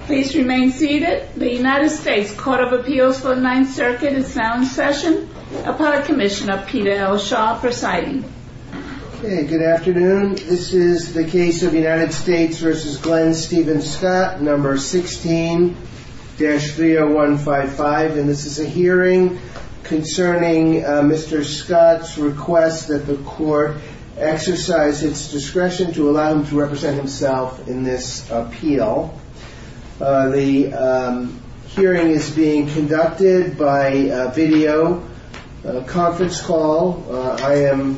Please remain seated. The United States Court of Appeals for the Ninth Circuit is now in session, upon a commission of Peter L. Shaw presiding. Good afternoon. This is the case of United States v. Glenn Steven Scott, No. 16-30155. This is a hearing concerning Mr. Scott's request that the Court exercise its discretion to allow him to represent himself in this appeal. The hearing is being conducted by video conference call. I am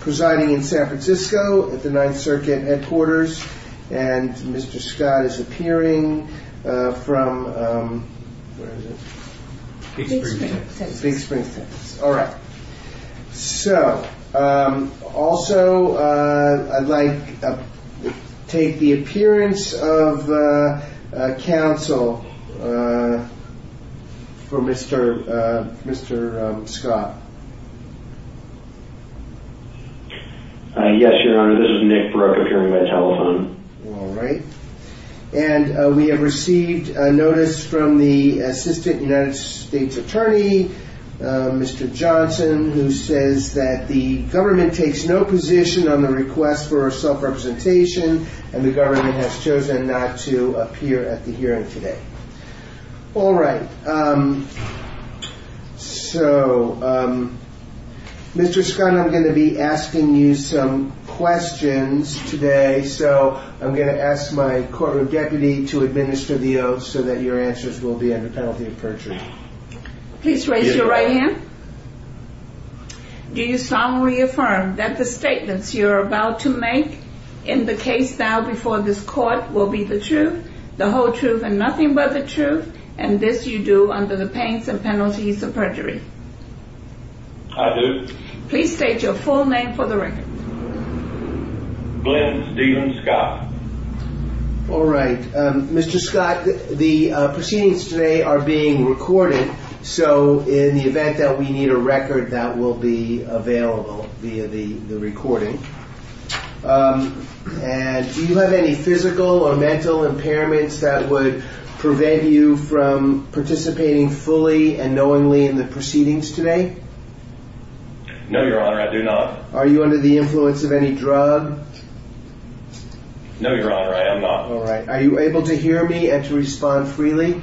presiding in San Francisco at the Ninth Circuit Headquarters, and Mr. Scott is appearing from Big Springs, Texas. Also, I'd like to take the appearance of counsel for Mr. Scott. Yes, Your Honor. This is Nick Barroco, appearing by telephone. We have received a notice from the Assistant United States Attorney, Mr. Johnson, who says that the government takes no position on the request for self-representation, and the government has chosen not to appear at the hearing today. All right. So, Mr. Scott, I'm going to be asking you some questions today, so I'm going to ask my courtroom deputy to administer the oaths so that your answers will be under penalty of perjury. Please raise your right hand. Do you solemnly affirm that the statements you're about to make in the case now before this Court will be the truth, the whole truth, and nothing but the truth, and this you do under the pains and penalties of perjury? I do. Please state your full name for the record. Glenn Steven Scott. All right. Mr. Scott, the proceedings today are being recorded, so in the event that we need a record, that will be available via the recording. And do you have any physical or mental impairments that would prevent you from participating fully and knowingly in the proceedings today? No, Your Honor, I do not. Are you under the influence of any drug? No, Your Honor, I am not. All right. Are you able to hear me and to respond freely?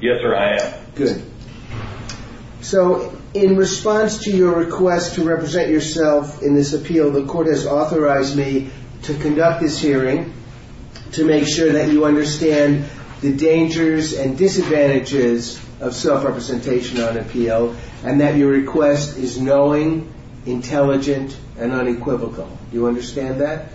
Yes, Your Honor, I am. Good. So in response to your request to represent yourself in this appeal, the Court has authorized me to conduct this hearing to make sure that you understand the dangers and disadvantages of self-representation on appeal and that your request is knowing, intelligent, and unequivocal. Do you understand that?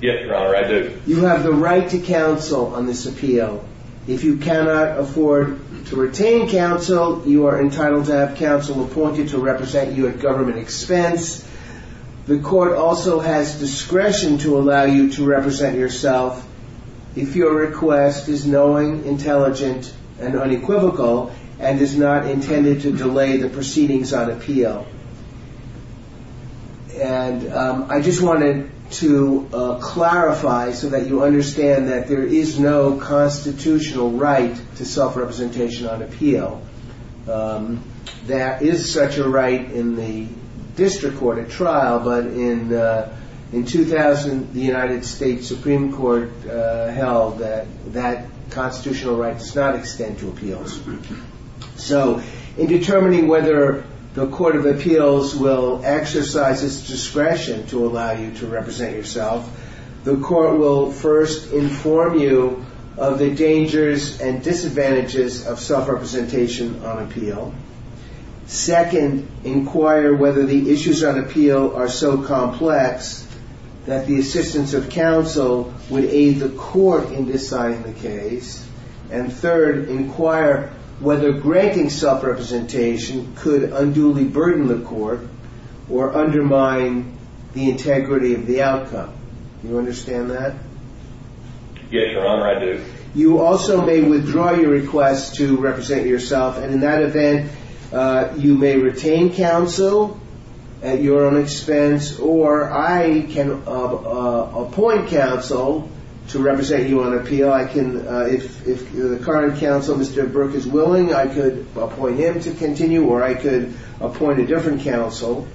Yes, Your Honor, I do. You have the right to counsel on this appeal. If you cannot afford to retain counsel, you are entitled to have counsel appointed to represent you at government expense. The Court also has discretion to allow you to represent yourself if your request is knowing, intelligent, and unequivocal and is not intended to delay the proceedings on appeal. And I just wanted to clarify so that you understand that there is no constitutional right to self-representation on appeal. There is such a right in the district court at trial, but in 2000, the United States Supreme Court held that that constitutional right does not extend to appeals. So in determining whether the Court of Appeals will exercise its discretion to allow you to represent yourself, the Court will first inform you of the dangers and disadvantages of self-representation on appeal. Second, inquire whether the issues on appeal are so complex that the assistance of counsel would aid the Court in deciding the case. And third, inquire whether granting self-representation could unduly burden the Court or undermine the integrity of the outcome. Do you understand that? Yes, Your Honor, I do. You also may withdraw your request to represent yourself, and in that event, you may retain counsel at your own expense, or I can appoint counsel to represent you on appeal. If the current counsel, Mr. Burke, is willing, I could appoint him to continue, or I could appoint a different counsel.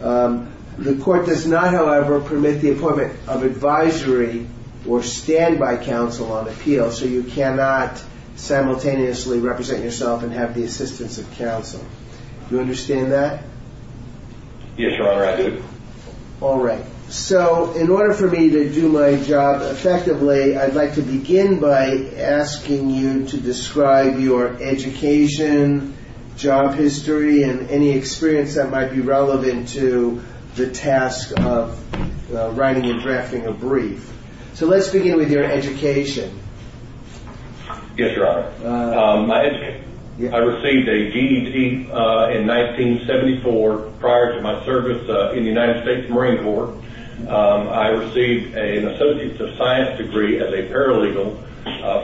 The Court does not, however, permit the appointment of advisory or standby counsel on appeal, so you cannot simultaneously represent yourself and have the assistance of counsel. Do you understand that? Yes, Your Honor, I do. All right. So in order for me to do my job effectively, I'd like to begin by asking you to describe your education, job history, and any experience that might be relevant to the task of writing and drafting a brief. So let's begin with your education. Yes, Your Honor. I received a GED in 1974 prior to my service in the United States Marine Corps. I received an Associate of Science degree as a paralegal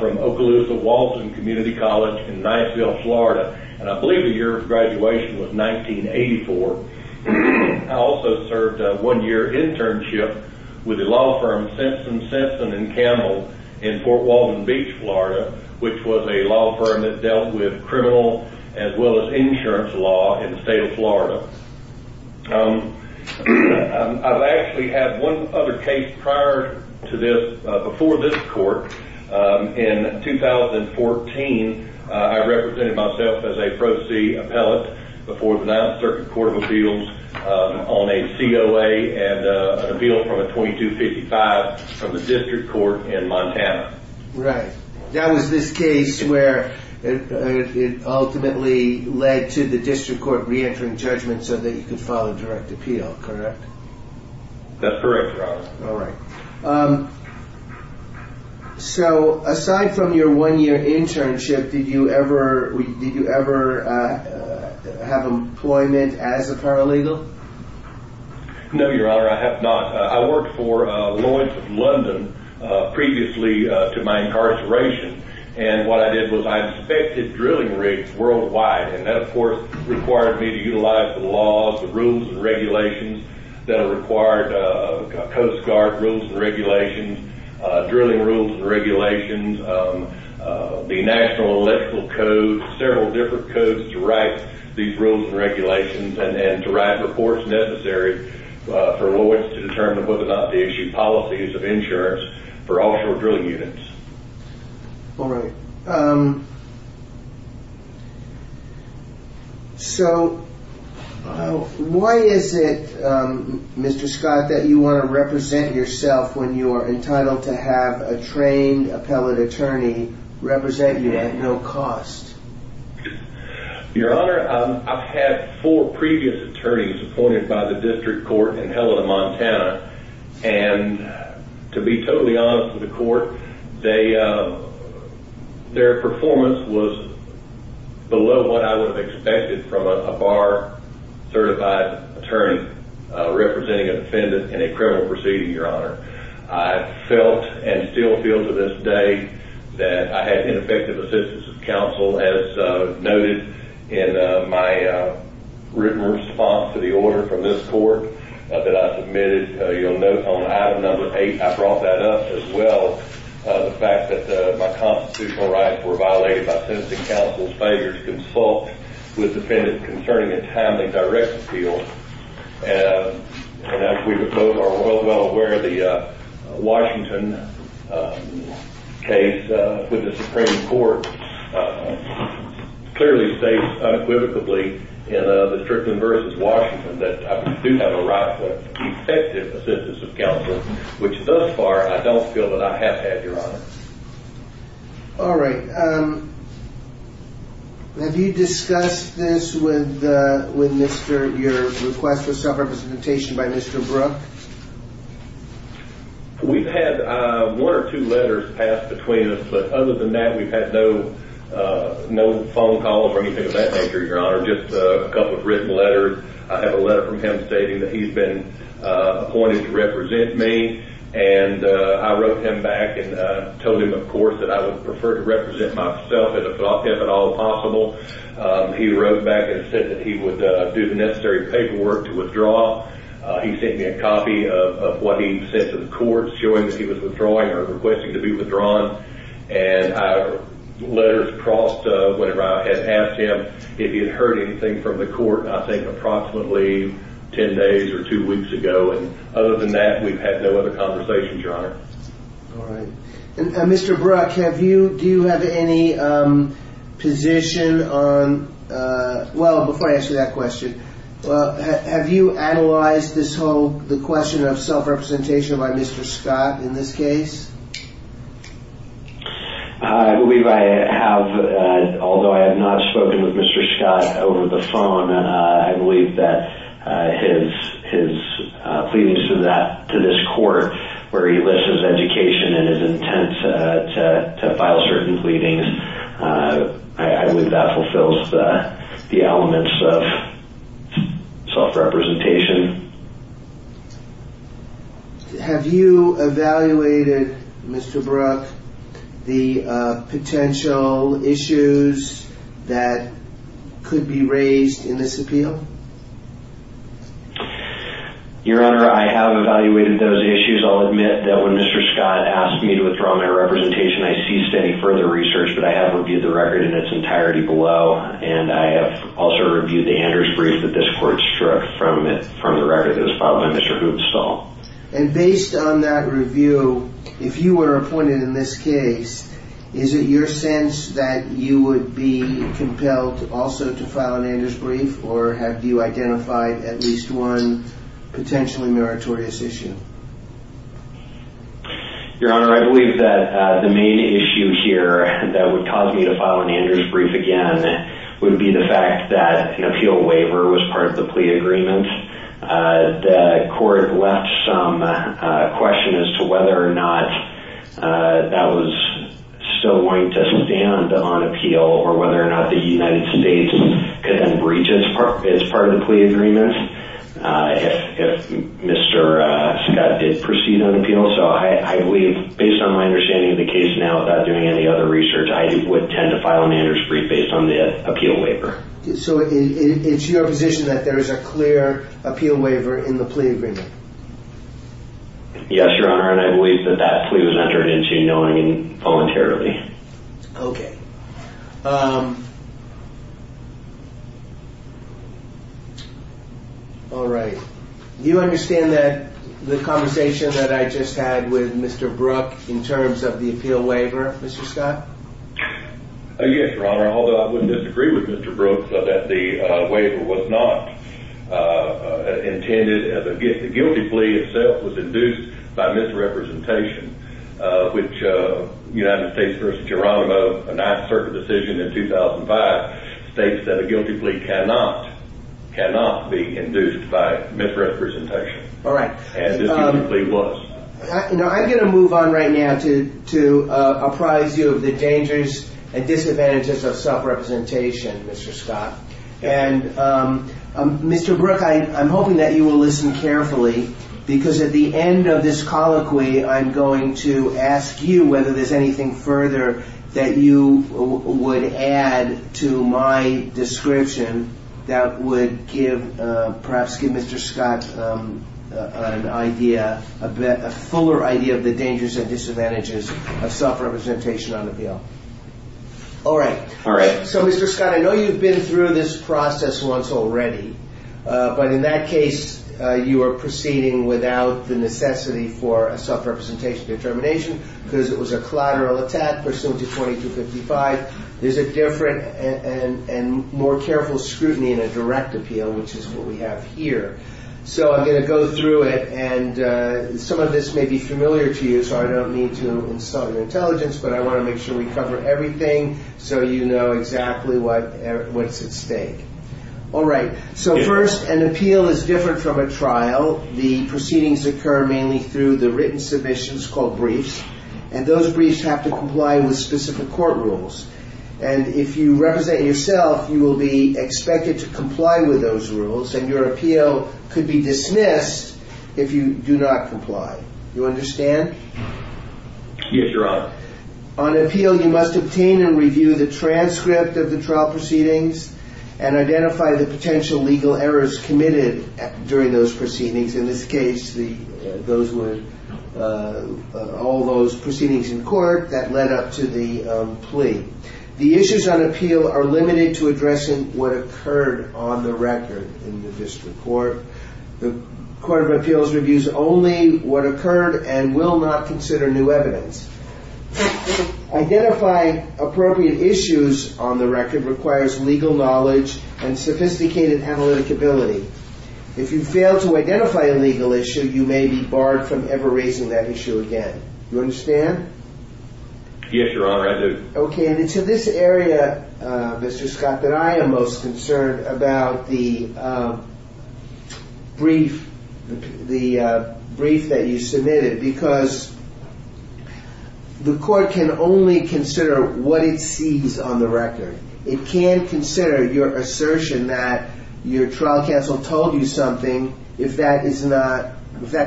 from Okaloosa-Walton Community College in Knightsville, Florida, and I believe the year of graduation was 1984. I also served a one-year internship with the law firm Simpson, Simpson & Campbell in Fort Walden Beach, Florida, which was a law firm that dealt with criminal as well as insurance law in the state of Florida. I've actually had one other case prior to this, before this Court. In 2014, I represented myself as a pro-see appellate before the 9th Circuit Court of Appeals on a COA and an appeal from a 2255 from the District Court in Montana. Right. That was this case where it ultimately led to the District Court re-entering judgment so that you could file a direct appeal, correct? That's correct, Your Honor. All right. So aside from your one-year internship, did you ever have employment as a paralegal? No, Your Honor, I have not. I worked for Lloyd's of London previously to my incarceration, and what I did was I inspected drilling rigs worldwide, and that, of course, required me to utilize the laws, the rules and regulations that are required, Coast Guard rules and regulations, drilling rules and regulations, the National Electoral Code, several different codes to write these rules and regulations, and to write reports necessary for Lloyd's to determine whether or not they issue policies of insurance for offshore drilling units. All right. So why is it, Mr. Scott, that you want to represent yourself when you are entitled to have a trained appellate attorney represent you at no cost? Your Honor, I've had four previous attorneys appointed by the District Court in Helena, Montana, and to be totally honest with the court, their performance was below what I would have expected from a bar-certified attorney representing an offendant in a criminal proceeding, Your Honor. I felt and still feel to this day that I had ineffective assistance as counsel. As noted in my written response to the order from this court that I submitted, you'll note on item number eight, I brought that up as well, the fact that my constitutional rights were violated by sentencing counsel's failure to consult with defendants concerning a timely direct appeal. And as we both are well aware, the Washington case with the Supreme Court clearly states unequivocally in the Strickland v. Washington that I do have a right to effective assistance of counsel, which thus far I don't feel that I have had, Your Honor. All right. Have you discussed this with your request for self-representation by Mr. Brooke? We've had one or two letters passed between us, but other than that, we've had no phone calls or anything of that nature, Your Honor, just a couple of written letters. I have a letter from him stating that he's been appointed to represent me, and I wrote him back and told him, of course, that I would prefer to represent myself as a plaintiff at all possible. He wrote back and said that he would do the necessary paperwork to withdraw. He sent me a copy of what he sent to the court showing that he was withdrawing or requesting to be withdrawn. And letters crossed whenever I had asked him if he had heard anything from the court, I think, approximately ten days or two weeks ago. And other than that, we've had no other conversations, Your Honor. All right. Mr. Brooke, do you have any position on – well, before I answer that question, have you analyzed this whole – the question of self-representation by Mr. Scott in this case? I believe I have. Although I have not spoken with Mr. Scott over the phone, I believe that his pleadings to this court where he lists his education and his intent to file certain pleadings, I believe that fulfills the elements of self-representation. Have you evaluated, Mr. Brooke, the potential issues that could be raised in this appeal? Your Honor, I have evaluated those issues. I'll admit that when Mr. Scott asked me to withdraw my representation, I ceased any further research, but I have reviewed the record in its entirety below. And I have also reviewed the Anders brief that this court struck from the record that was filed by Mr. Hoopstall. And based on that review, if you were appointed in this case, is it your sense that you would be compelled also to file an Anders brief, or have you identified at least one potentially meritorious issue? Your Honor, I believe that the main issue here that would cause me to file an Anders brief again would be the fact that an appeal waiver was part of the plea agreement. The court left some question as to whether or not that was still going to stand on appeal, or whether or not the United States could then breach it as part of the plea agreement. If Mr. Scott did proceed on appeal. So I believe, based on my understanding of the case now, without doing any other research, I would tend to file an Anders brief based on the appeal waiver. So it's your position that there is a clear appeal waiver in the plea agreement? Yes, Your Honor, and I believe that that plea was entered into knowingly and voluntarily. Okay. All right. Do you understand that the conversation that I just had with Mr. Brook in terms of the appeal waiver, Mr. Scott? Yes, Your Honor. Your Honor, although I would disagree with Mr. Brook that the waiver was not intended as a guilty plea itself, was induced by misrepresentation, which United States v. Geronimo, a 9th Circuit decision in 2005, states that a guilty plea cannot be induced by misrepresentation. All right. As this guilty plea was. I'm going to move on right now to apprise you of the dangers and disadvantages of self-representation, Mr. Scott. And Mr. Brook, I'm hoping that you will listen carefully, because at the end of this colloquy, I'm going to ask you whether there's anything further that you would add to my description that would perhaps give Mr. Scott an idea, a fuller idea of the dangers and disadvantages of self-representation on appeal. All right. All right. So, Mr. Scott, I know you've been through this process once already, but in that case, you are proceeding without the necessity for a self-representation determination, because it was a collateral attack pursuant to 2255. There's a different and more careful scrutiny in a direct appeal, which is what we have here. So I'm going to go through it, and some of this may be familiar to you, so I don't need to insult your intelligence, but I want to make sure we cover everything so you know exactly what's at stake. All right. So first, an appeal is different from a trial. The proceedings occur mainly through the written submissions called briefs, and those briefs have to comply with specific court rules. And if you represent yourself, you will be expected to comply with those rules, and your appeal could be dismissed if you do not comply. Do you understand? Yes, Your Honor. All right. On appeal, you must obtain and review the transcript of the trial proceedings and identify the potential legal errors committed during those proceedings. In this case, those were all those proceedings in court that led up to the plea. The issues on appeal are limited to addressing what occurred on the record in the district court. The Court of Appeals reviews only what occurred and will not consider new evidence. Identifying appropriate issues on the record requires legal knowledge and sophisticated analytic ability. If you fail to identify a legal issue, you may be barred from ever raising that issue again. Do you understand? Yes, Your Honor, I do. Okay, and it's in this area, Mr. Scott, that I am most concerned about the brief that you submitted, because the court can only consider what it sees on the record. It can't consider your assertion that your trial counsel told you something if that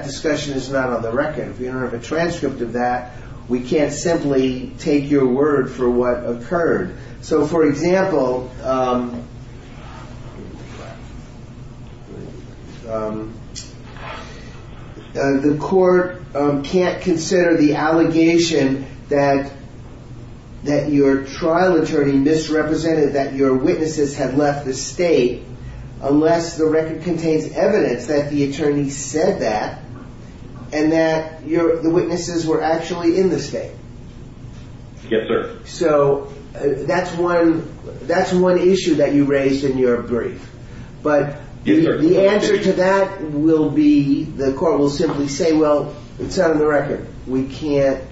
discussion is not on the record. If you don't have a transcript of that, we can't simply take your word for what occurred. So, for example, the court can't consider the allegation that your trial attorney misrepresented that your witnesses had left the state unless the record contains evidence that the attorney said that and that the witnesses were actually in the state. Yes, sir. So, that's one issue that you raised in your brief. But the answer to that will be the court will simply say, well, it's not on the record. We can't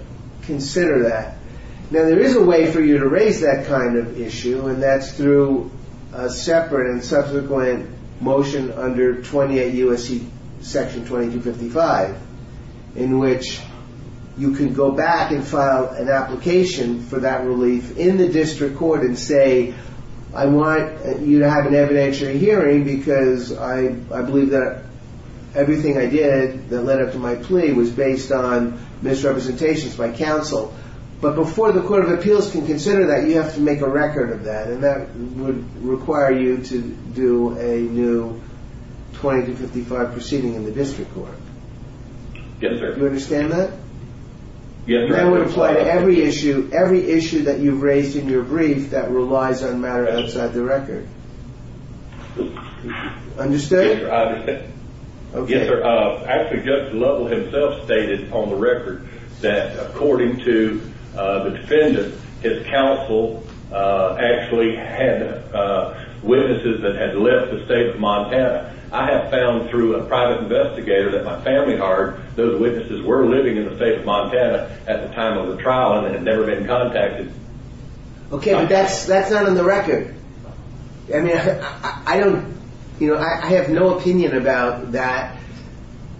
consider that. Now, there is a way for you to raise that kind of issue, and that's through a separate and subsequent motion under 28 U.S.C. Section 2255, in which you can go back and file an application for that relief in the district court and say, I want you to have an evidentiary hearing because I believe that everything I did that led up to my plea was based on misrepresentations by counsel. But before the court of appeals can consider that, you have to make a record of that, and that would require you to do a new 2255 proceeding in the district court. Yes, sir. Do you understand that? Yes, sir. That would apply to every issue that you've raised in your brief that relies on matter outside the record. Understood? Yes, sir. Actually, Judge Lovell himself stated on the record that according to the defendant, his counsel actually had witnesses that had left the state of Montana. I have found through a private investigator that my family heard those witnesses were living in the state of Montana at the time of the trial and had never been contacted. Okay, but that's not on the record. I have no opinion about that,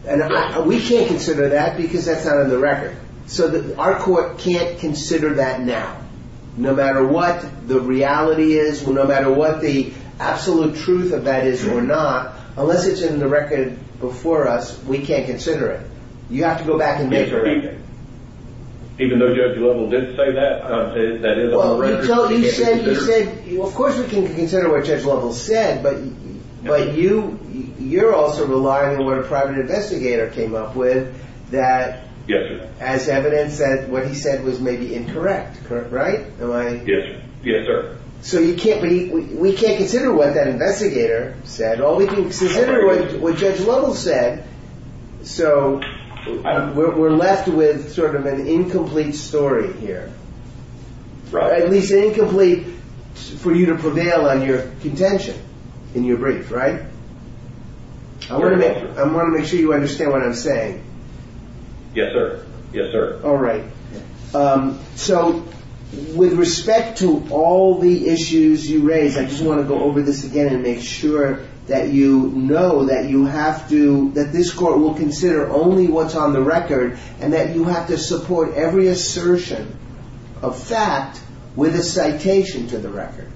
and we can't consider that because that's not on the record. So our court can't consider that now. No matter what the reality is, no matter what the absolute truth of that is or not, unless it's in the record before us, we can't consider it. You have to go back and make a record. Even though Judge Lovell did say that, that is on the record. Of course we can consider what Judge Lovell said, but you're also relying on what a private investigator came up with as evidence that what he said was maybe incorrect, right? Yes, sir. We can't consider what that investigator said. We can consider what Judge Lovell said, so we're left with sort of an incomplete story here. Right. At least incomplete for you to prevail on your contention in your brief, right? I want to make sure you understand what I'm saying. Yes, sir. All right. So with respect to all the issues you raised, I just want to go over this again and make sure that you know that this court will consider only what's on the record and that you have to support every assertion of fact with a citation to the record.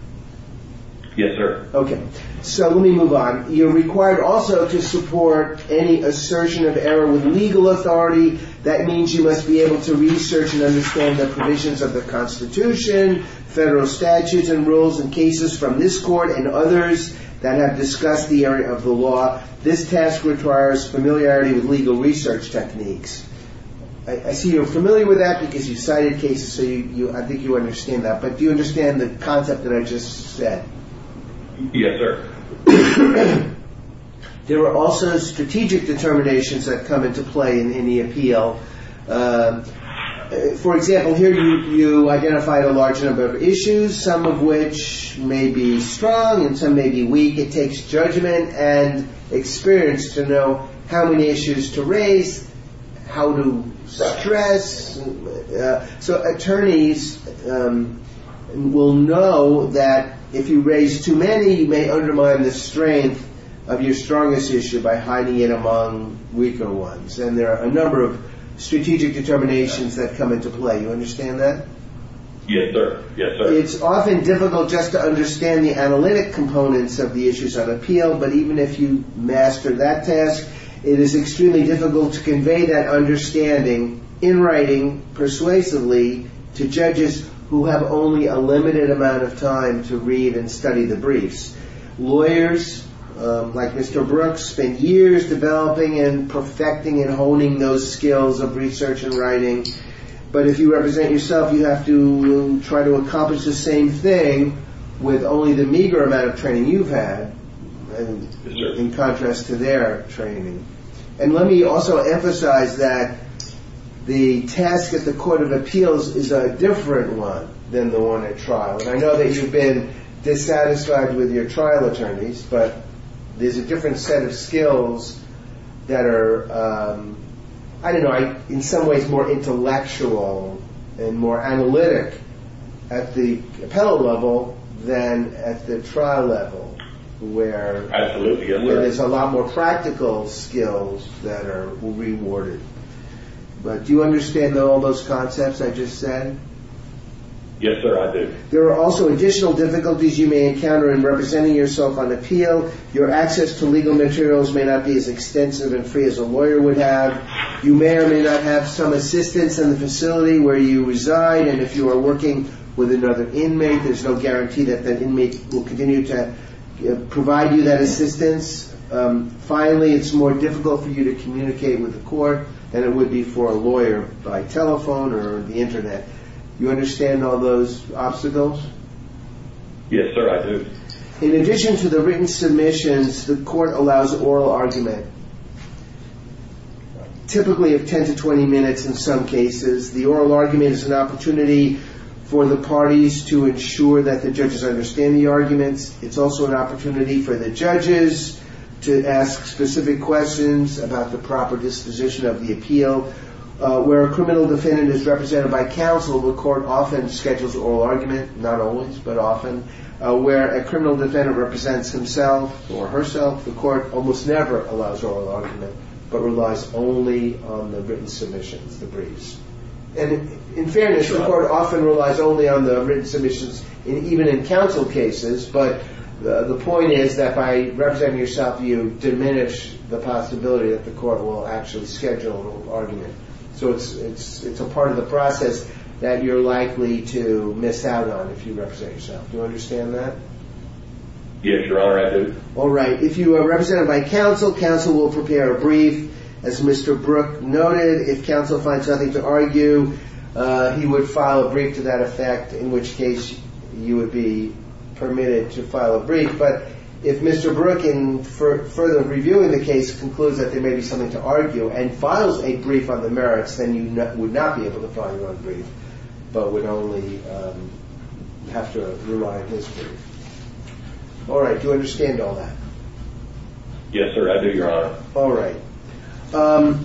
Yes, sir. Okay. So let me move on. You're required also to support any assertion of error with legal authority. That means you must be able to research and understand the provisions of the Constitution, federal statutes and rules, and cases from this court and others that have discussed the area of the law. This task requires familiarity with legal research techniques. I see you're familiar with that because you cited cases, so I think you understand that. But do you understand the concept that I just said? Yes, sir. There are also strategic determinations that come into play in the appeal. For example, here you identified a large number of issues, some of which may be strong and some may be weak. It takes judgment and experience to know how many issues to raise, how to stress. So attorneys will know that if you raise too many, you may undermine the strength of your strongest issue by hiding it among weaker ones. And there are a number of strategic determinations that come into play. You understand that? Yes, sir. It's often difficult just to understand the analytic components of the issues of appeal. But even if you master that task, it is extremely difficult to convey that understanding in writing persuasively to judges who have only a limited amount of time to read and study the briefs. Lawyers like Mr. Brooks spent years developing and perfecting and honing those skills of research and writing. But if you represent yourself, you have to try to accomplish the same thing with only the meager amount of training you've had in contrast to their training. And let me also emphasize that the task at the court of appeals is a different one than the one at trial. And I know that you've been dissatisfied with your trial attorneys, but there's a different set of skills that are, I don't know, in some ways more intellectual and more analytic at the appellate level than at the trial level, where there's a lot more practical skills that are rewarded. But do you understand all those concepts I just said? Yes, sir, I do. There are also additional difficulties you may encounter in representing yourself on appeal. Your access to legal materials may not be as extensive and free as a lawyer would have. You may or may not have some assistance in the facility where you reside. And if you are working with another inmate, there's no guarantee that that inmate will continue to provide you that assistance. Finally, it's more difficult for you to communicate with the court than it would be for a lawyer by telephone or the Internet. Do you understand all those obstacles? Yes, sir, I do. In addition to the written submissions, the court allows oral argument, typically of 10 to 20 minutes in some cases. The oral argument is an opportunity for the parties to ensure that the judges understand the arguments. It's also an opportunity for the judges to ask specific questions about the proper disposition of the appeal. Where a criminal defendant is represented by counsel, the court often schedules oral argument, not always, but often. Where a criminal defendant represents himself or herself, the court almost never allows oral argument, but relies only on the written submissions, the briefs. In fairness, the court often relies only on the written submissions, even in counsel cases. But the point is that by representing yourself, you diminish the possibility that the court will actually schedule oral argument. So it's a part of the process that you're likely to miss out on if you represent yourself. Do you understand that? Yes, Your Honor, I do. All right. If you are represented by counsel, counsel will prepare a brief. As Mr. Brook noted, if counsel finds nothing to argue, he would file a brief to that effect, in which case you would be permitted to file a brief. But if Mr. Brook, in further reviewing the case, concludes that there may be something to argue and files a brief on the merits, then you would not be able to file your own brief, but would only have to rely on his brief. All right. Do you understand all that? Yes, sir, I do, Your Honor. All right. So,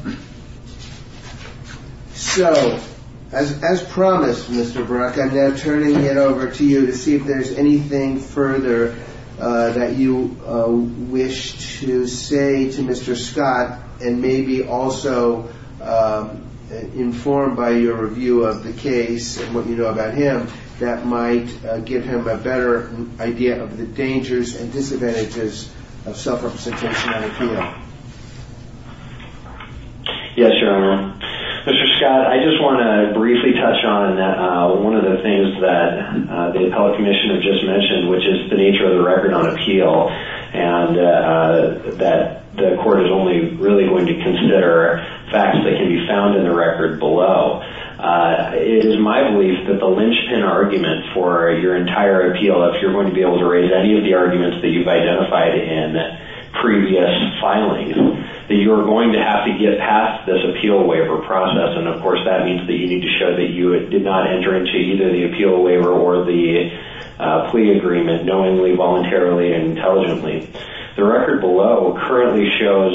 as promised, Mr. Brook, I'm now turning it over to you to see if there's anything further that you wish to say to Mr. Scott, and maybe also informed by your review of the case and what you know about him, that might give him a better idea of the dangers and disadvantages of self-representation on appeal. Yes, Your Honor. Mr. Scott, I just want to briefly touch on one of the things that the appellate commissioner just mentioned, which is the nature of the record on appeal, and that the court is only really going to consider facts that can be found in the record below. It is my belief that the linchpin argument for your entire appeal, if you're going to be able to raise any of the arguments that you've identified in previous filings, that you are going to have to get past this appeal waiver process, and, of course, that means that you need to show that you did not enter into either the appeal waiver or the plea agreement knowingly, voluntarily, and intelligently. The record below currently shows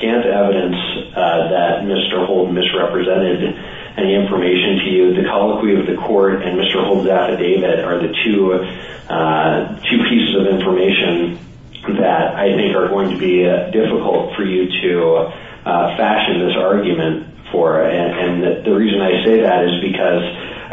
scant evidence that Mr. Holden misrepresented any information to you. The colloquy of the court and Mr. Holden's affidavit are the two pieces of information that I think are going to be difficult for you to fashion this argument for, and the reason I say that is because,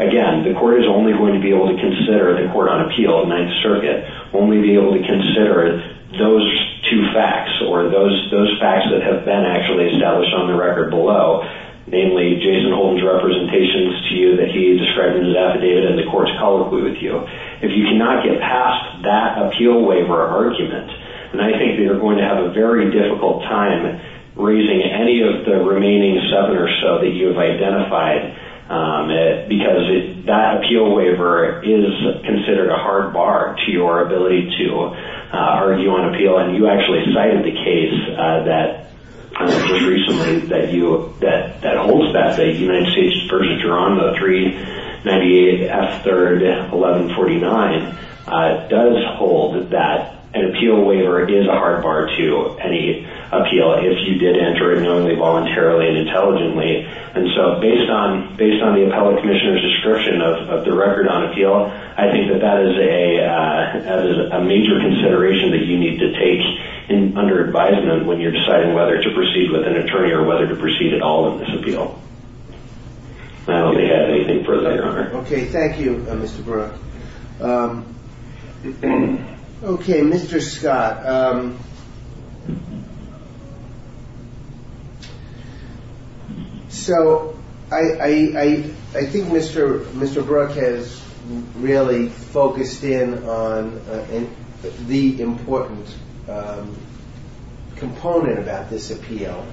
again, the court is only going to be able to consider the court on appeal of Ninth Circuit, only be able to consider those two facts or those facts that have been actually established on the record below, namely, Jason Holden's representations to you that he described in his affidavit and the court's colloquy with you. If you cannot get past that appeal waiver argument, then I think that you're going to have a very difficult time raising any of the remaining seven or so that you have identified because that appeal waiver is considered a hard bar to your ability to argue on appeal, and you actually cited the case that holds that, say, United States v. Geronimo 398 F. 3rd 1149, does hold that an appeal waiver is a hard bar to any appeal if you did enter it knowingly, voluntarily, and intelligently, and so based on the appellate commissioner's description of the record on appeal, I think that that is a major consideration that you need to take under advisement when you're deciding whether to proceed with an attorney or whether to proceed at all with this appeal. I don't have anything further, Your Honor. Okay, thank you, Mr. Brook. Okay, Mr. Scott. So I think Mr. Brook has really focused in on the important component about this appeal,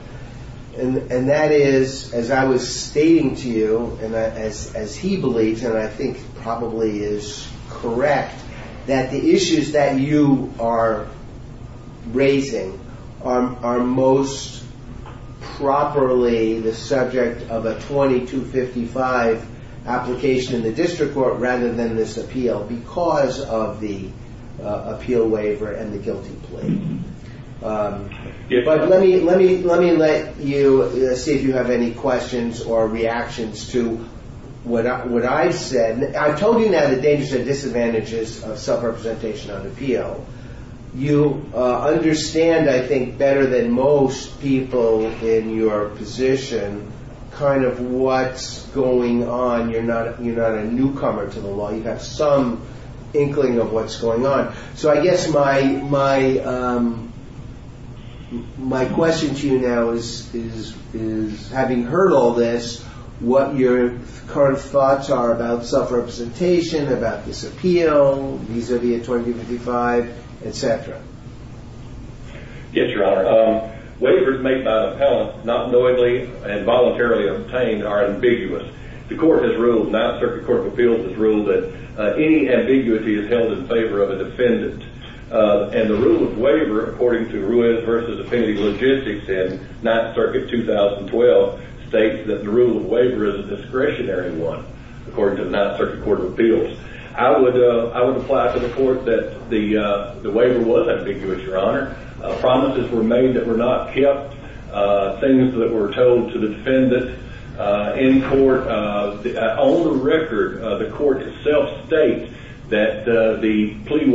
and that is, as I was stating to you, and as he believes, and I think probably is correct, that the issues that you are raising are most properly the subject of a 2255 application in the district court rather than this appeal because of the appeal waiver and the guilty plea. But let me let you see if you have any questions or reactions to what I've said. I've told you now the dangers and disadvantages of self-representation on appeal. You understand, I think, better than most people in your position kind of what's going on. You're not a newcomer to the law. You have some inkling of what's going on. So I guess my question to you now is, having heard all this, what your current thoughts are about self-representation, about this appeal, vis-à-vis a 2255, et cetera. Yes, Your Honor. Waivers made by the appellant not knowingly and voluntarily obtained are ambiguous. The court has ruled, Ninth Circuit Court of Appeals has ruled, that any ambiguity is held in favor of a defendant. And the rule of waiver, according to Ruiz v. Affinity Logistics in Ninth Circuit 2012, states that the rule of waiver is a discretionary one, according to the Ninth Circuit Court of Appeals. I would apply to the court that the waiver was ambiguous, Your Honor. Promises were made that were not kept, things that were told to the defendant in court. On the record, the court itself states that the plea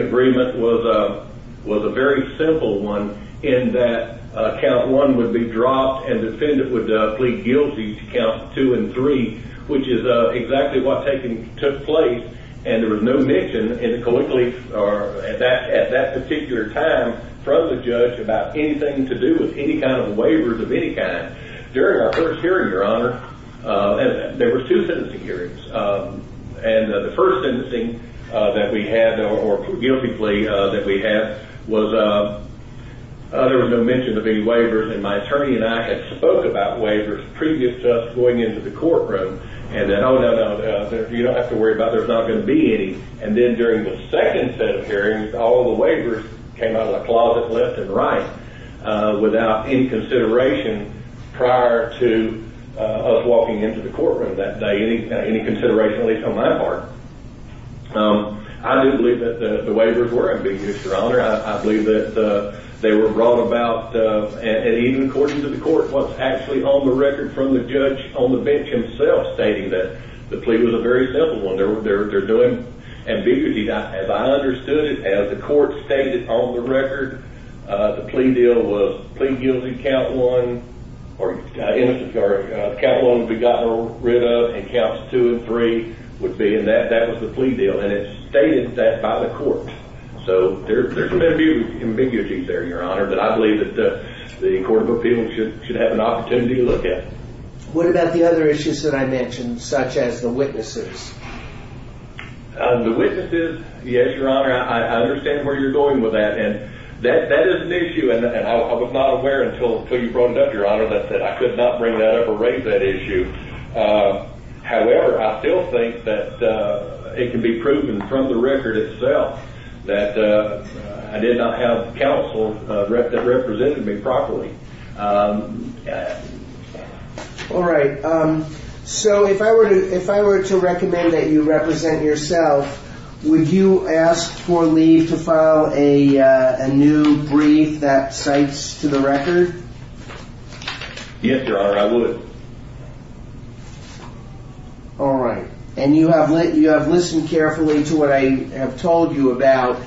agreement was a very simple one, in that Count 1 would be dropped and the defendant would plead guilty to Counts 2 and 3, which is exactly what took place. And there was no mention at that particular time from the judge about anything to do with any kind of waivers of any kind. During our first hearing, Your Honor, there were two sentencing hearings. And the first sentencing that we had, or guilty plea that we had, there was no mention of any waivers. And my attorney and I had spoke about waivers previous to us going into the courtroom. And then, oh, no, no, no, you don't have to worry about it, there's not going to be any. And then during the second set of hearings, all the waivers came out of the closet left and right, without any consideration prior to us walking into the courtroom that day, any consideration at least on my part. I do believe that the waivers were ambiguous, Your Honor. I believe that they were brought about, and even according to the court, what's actually on the record from the judge on the bench himself stating that the plea was a very simple one. They're doing ambiguity. As I understood it, as the court stated on the record, the plea deal was plea guilty, Count 1, or Count 1 would be gotten rid of and Counts 2 and 3 would be, and that was the plea deal. And it's stated that by the court. So there's some ambiguity there, Your Honor, but I believe that the Court of Appeals should have an opportunity to look at it. What about the other issues that I mentioned, such as the witnesses? The witnesses, yes, Your Honor, I understand where you're going with that. And that is an issue, and I was not aware until you brought it up, Your Honor, that I could not bring that up or raise that issue. However, I still think that it can be proven from the record itself that I did not have counsel that represented me properly. All right. So if I were to recommend that you represent yourself, would you ask for leave to file a new brief that cites to the record? Yes, Your Honor, I would. All right. And you have listened carefully to what I have told you about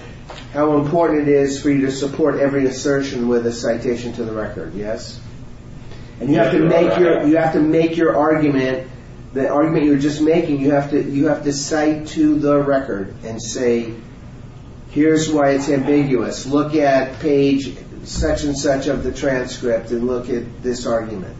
how important it is for you to support every assertion with a citation to the record, yes? And you have to make your argument, the argument you were just making, you have to cite to the record and say, here's why it's ambiguous. Look at page such and such of the transcript and look at this argument.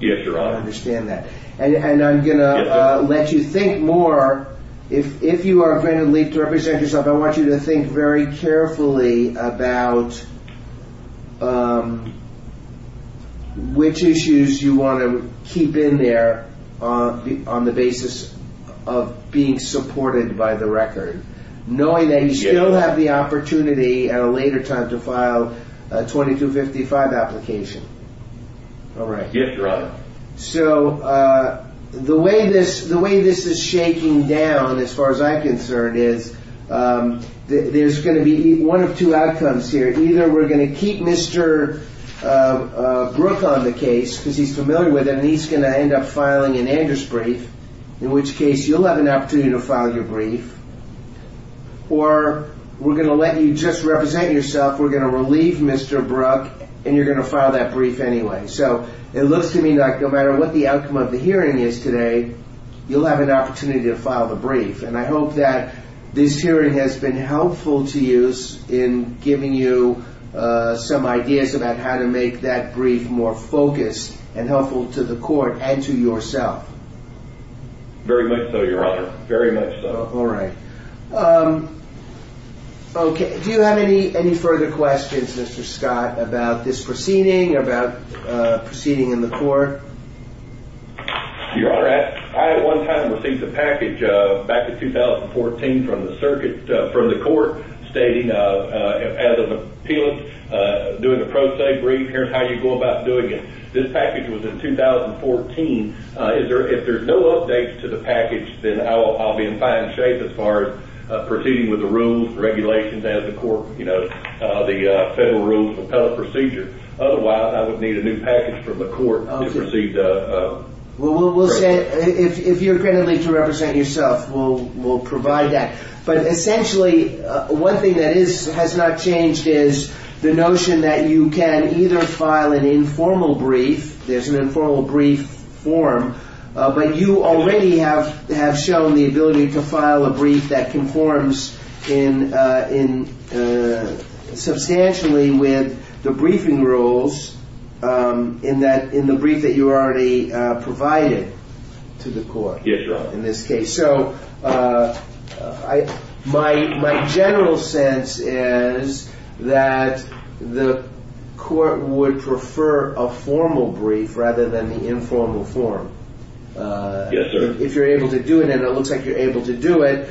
Yes, Your Honor. I understand that. And I'm going to let you think more. If you are going to leave to represent yourself, I want you to think very carefully about which issues you want to keep in there on the basis of being supported by the record, knowing that you still have the opportunity at a later time to file a 2255 application. All right. Yes, Your Honor. So the way this is shaking down, as far as I'm concerned, is there's going to be one of two outcomes here. Either we're going to keep Mr. Brook on the case because he's familiar with it and he's going to end up filing an Anders brief, in which case you'll have an opportunity to file your brief. Or we're going to let you just represent yourself, we're going to relieve Mr. Brook, and you're going to file that brief anyway. So it looks to me like no matter what the outcome of the hearing is today, you'll have an opportunity to file the brief. And I hope that this hearing has been helpful to you in giving you some ideas about how to make that brief more focused and helpful to the court and to yourself. Very much so, Your Honor. Very much so. All right. Okay. Do you have any further questions, Mr. Scott, about this proceeding, about proceeding in the court? Your Honor, I at one time received a package back in 2014 from the circuit, from the court stating as an appealant doing a pro se brief, here's how you go about doing it. This package was in 2014. If there's no updates to the package, then I'll be in fine shape as far as proceeding with the rules, regulations, as the court, you know, the Federal Rules of Appellate Procedure. Otherwise, I would need a new package from the court to proceed. Well, we'll say if you're ready to represent yourself, we'll provide that. But essentially, one thing that has not changed is the notion that you can either file an informal brief, there's an informal brief form, but you already have shown the ability to file a brief that conforms substantially with the briefing rules in the brief that you already provided to the court. Yes, Your Honor. Well, in this case. So my general sense is that the court would prefer a formal brief rather than the informal form. Yes, sir. If you're able to do it, and it looks like you're able to do it,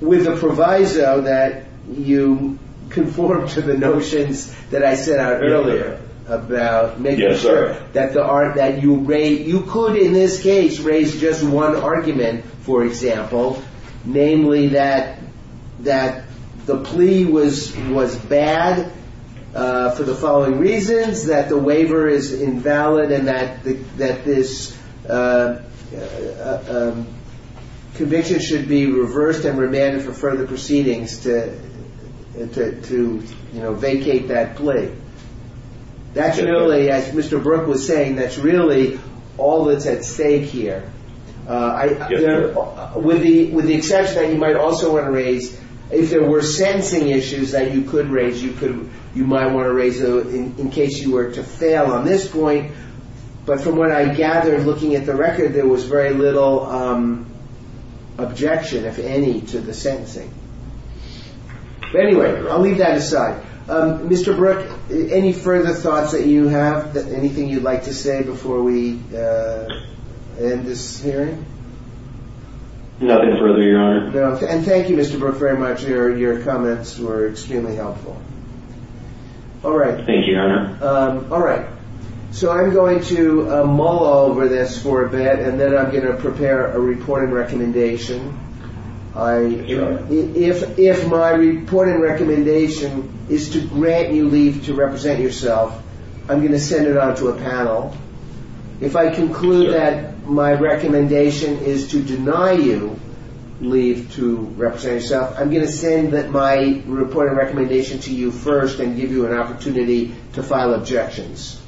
with the proviso that you conform to the notions that I set out earlier about making sure that you raise, the court in this case raised just one argument, for example, namely that the plea was bad for the following reasons, that the waiver is invalid and that this conviction should be reversed and remanded for further proceedings to, you know, vacate that plea. That's really, as Mr. Brook was saying, that's really all that's at stake here. Yes, sir. With the exception that you might also want to raise, if there were sentencing issues that you could raise, you might want to raise in case you were to fail on this point. But from what I gathered looking at the record, there was very little objection, if any, to the sentencing. Anyway, I'll leave that aside. All right. Mr. Brook, any further thoughts that you have, anything you'd like to say before we end this hearing? Nothing further, Your Honor. And thank you, Mr. Brook, very much. Your comments were extremely helpful. All right. Thank you, Your Honor. All right. So I'm going to mull over this for a bit, and then I'm going to prepare a reporting recommendation. Your Honor. If my reporting recommendation is to grant you leave to represent yourself, I'm going to send it on to a panel. If I conclude that my recommendation is to deny you leave to represent yourself, I'm going to send my reporting recommendation to you first and give you an opportunity to file objections.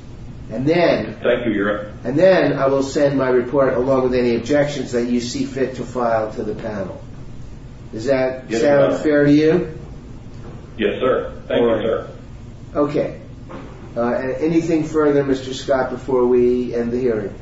Thank you, Your Honor. And then I will send my report along with any objections that you see fit to file to the panel. Does that sound fair to you? Yes, sir. Thank you, sir. Okay. Anything further, Mr. Scott, before we end the hearing?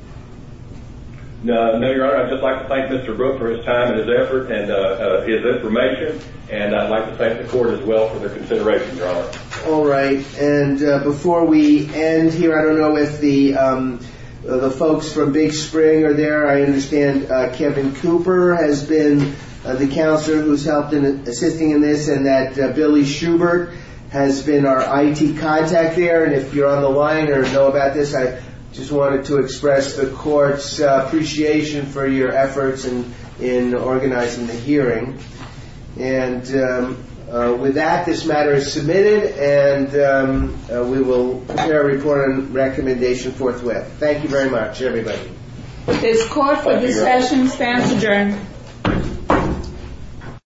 No, Your Honor. I'd just like to thank Mr. Brook for his time and his effort and his information, and I'd like to thank the court as well for their consideration, Your Honor. All right. And before we end here, I don't know if the folks from Big Spring are there. I understand Kevin Cooper has been the counselor who's helped in assisting in this, and that Billy Schubert has been our IT contact there. And if you're on the line or know about this, I just wanted to express the court's appreciation for your efforts in organizing the hearing. And with that, this matter is submitted, and we will prepare a report on recommendation forthwith. Thank you very much, everybody. This court for discussion stands adjourned.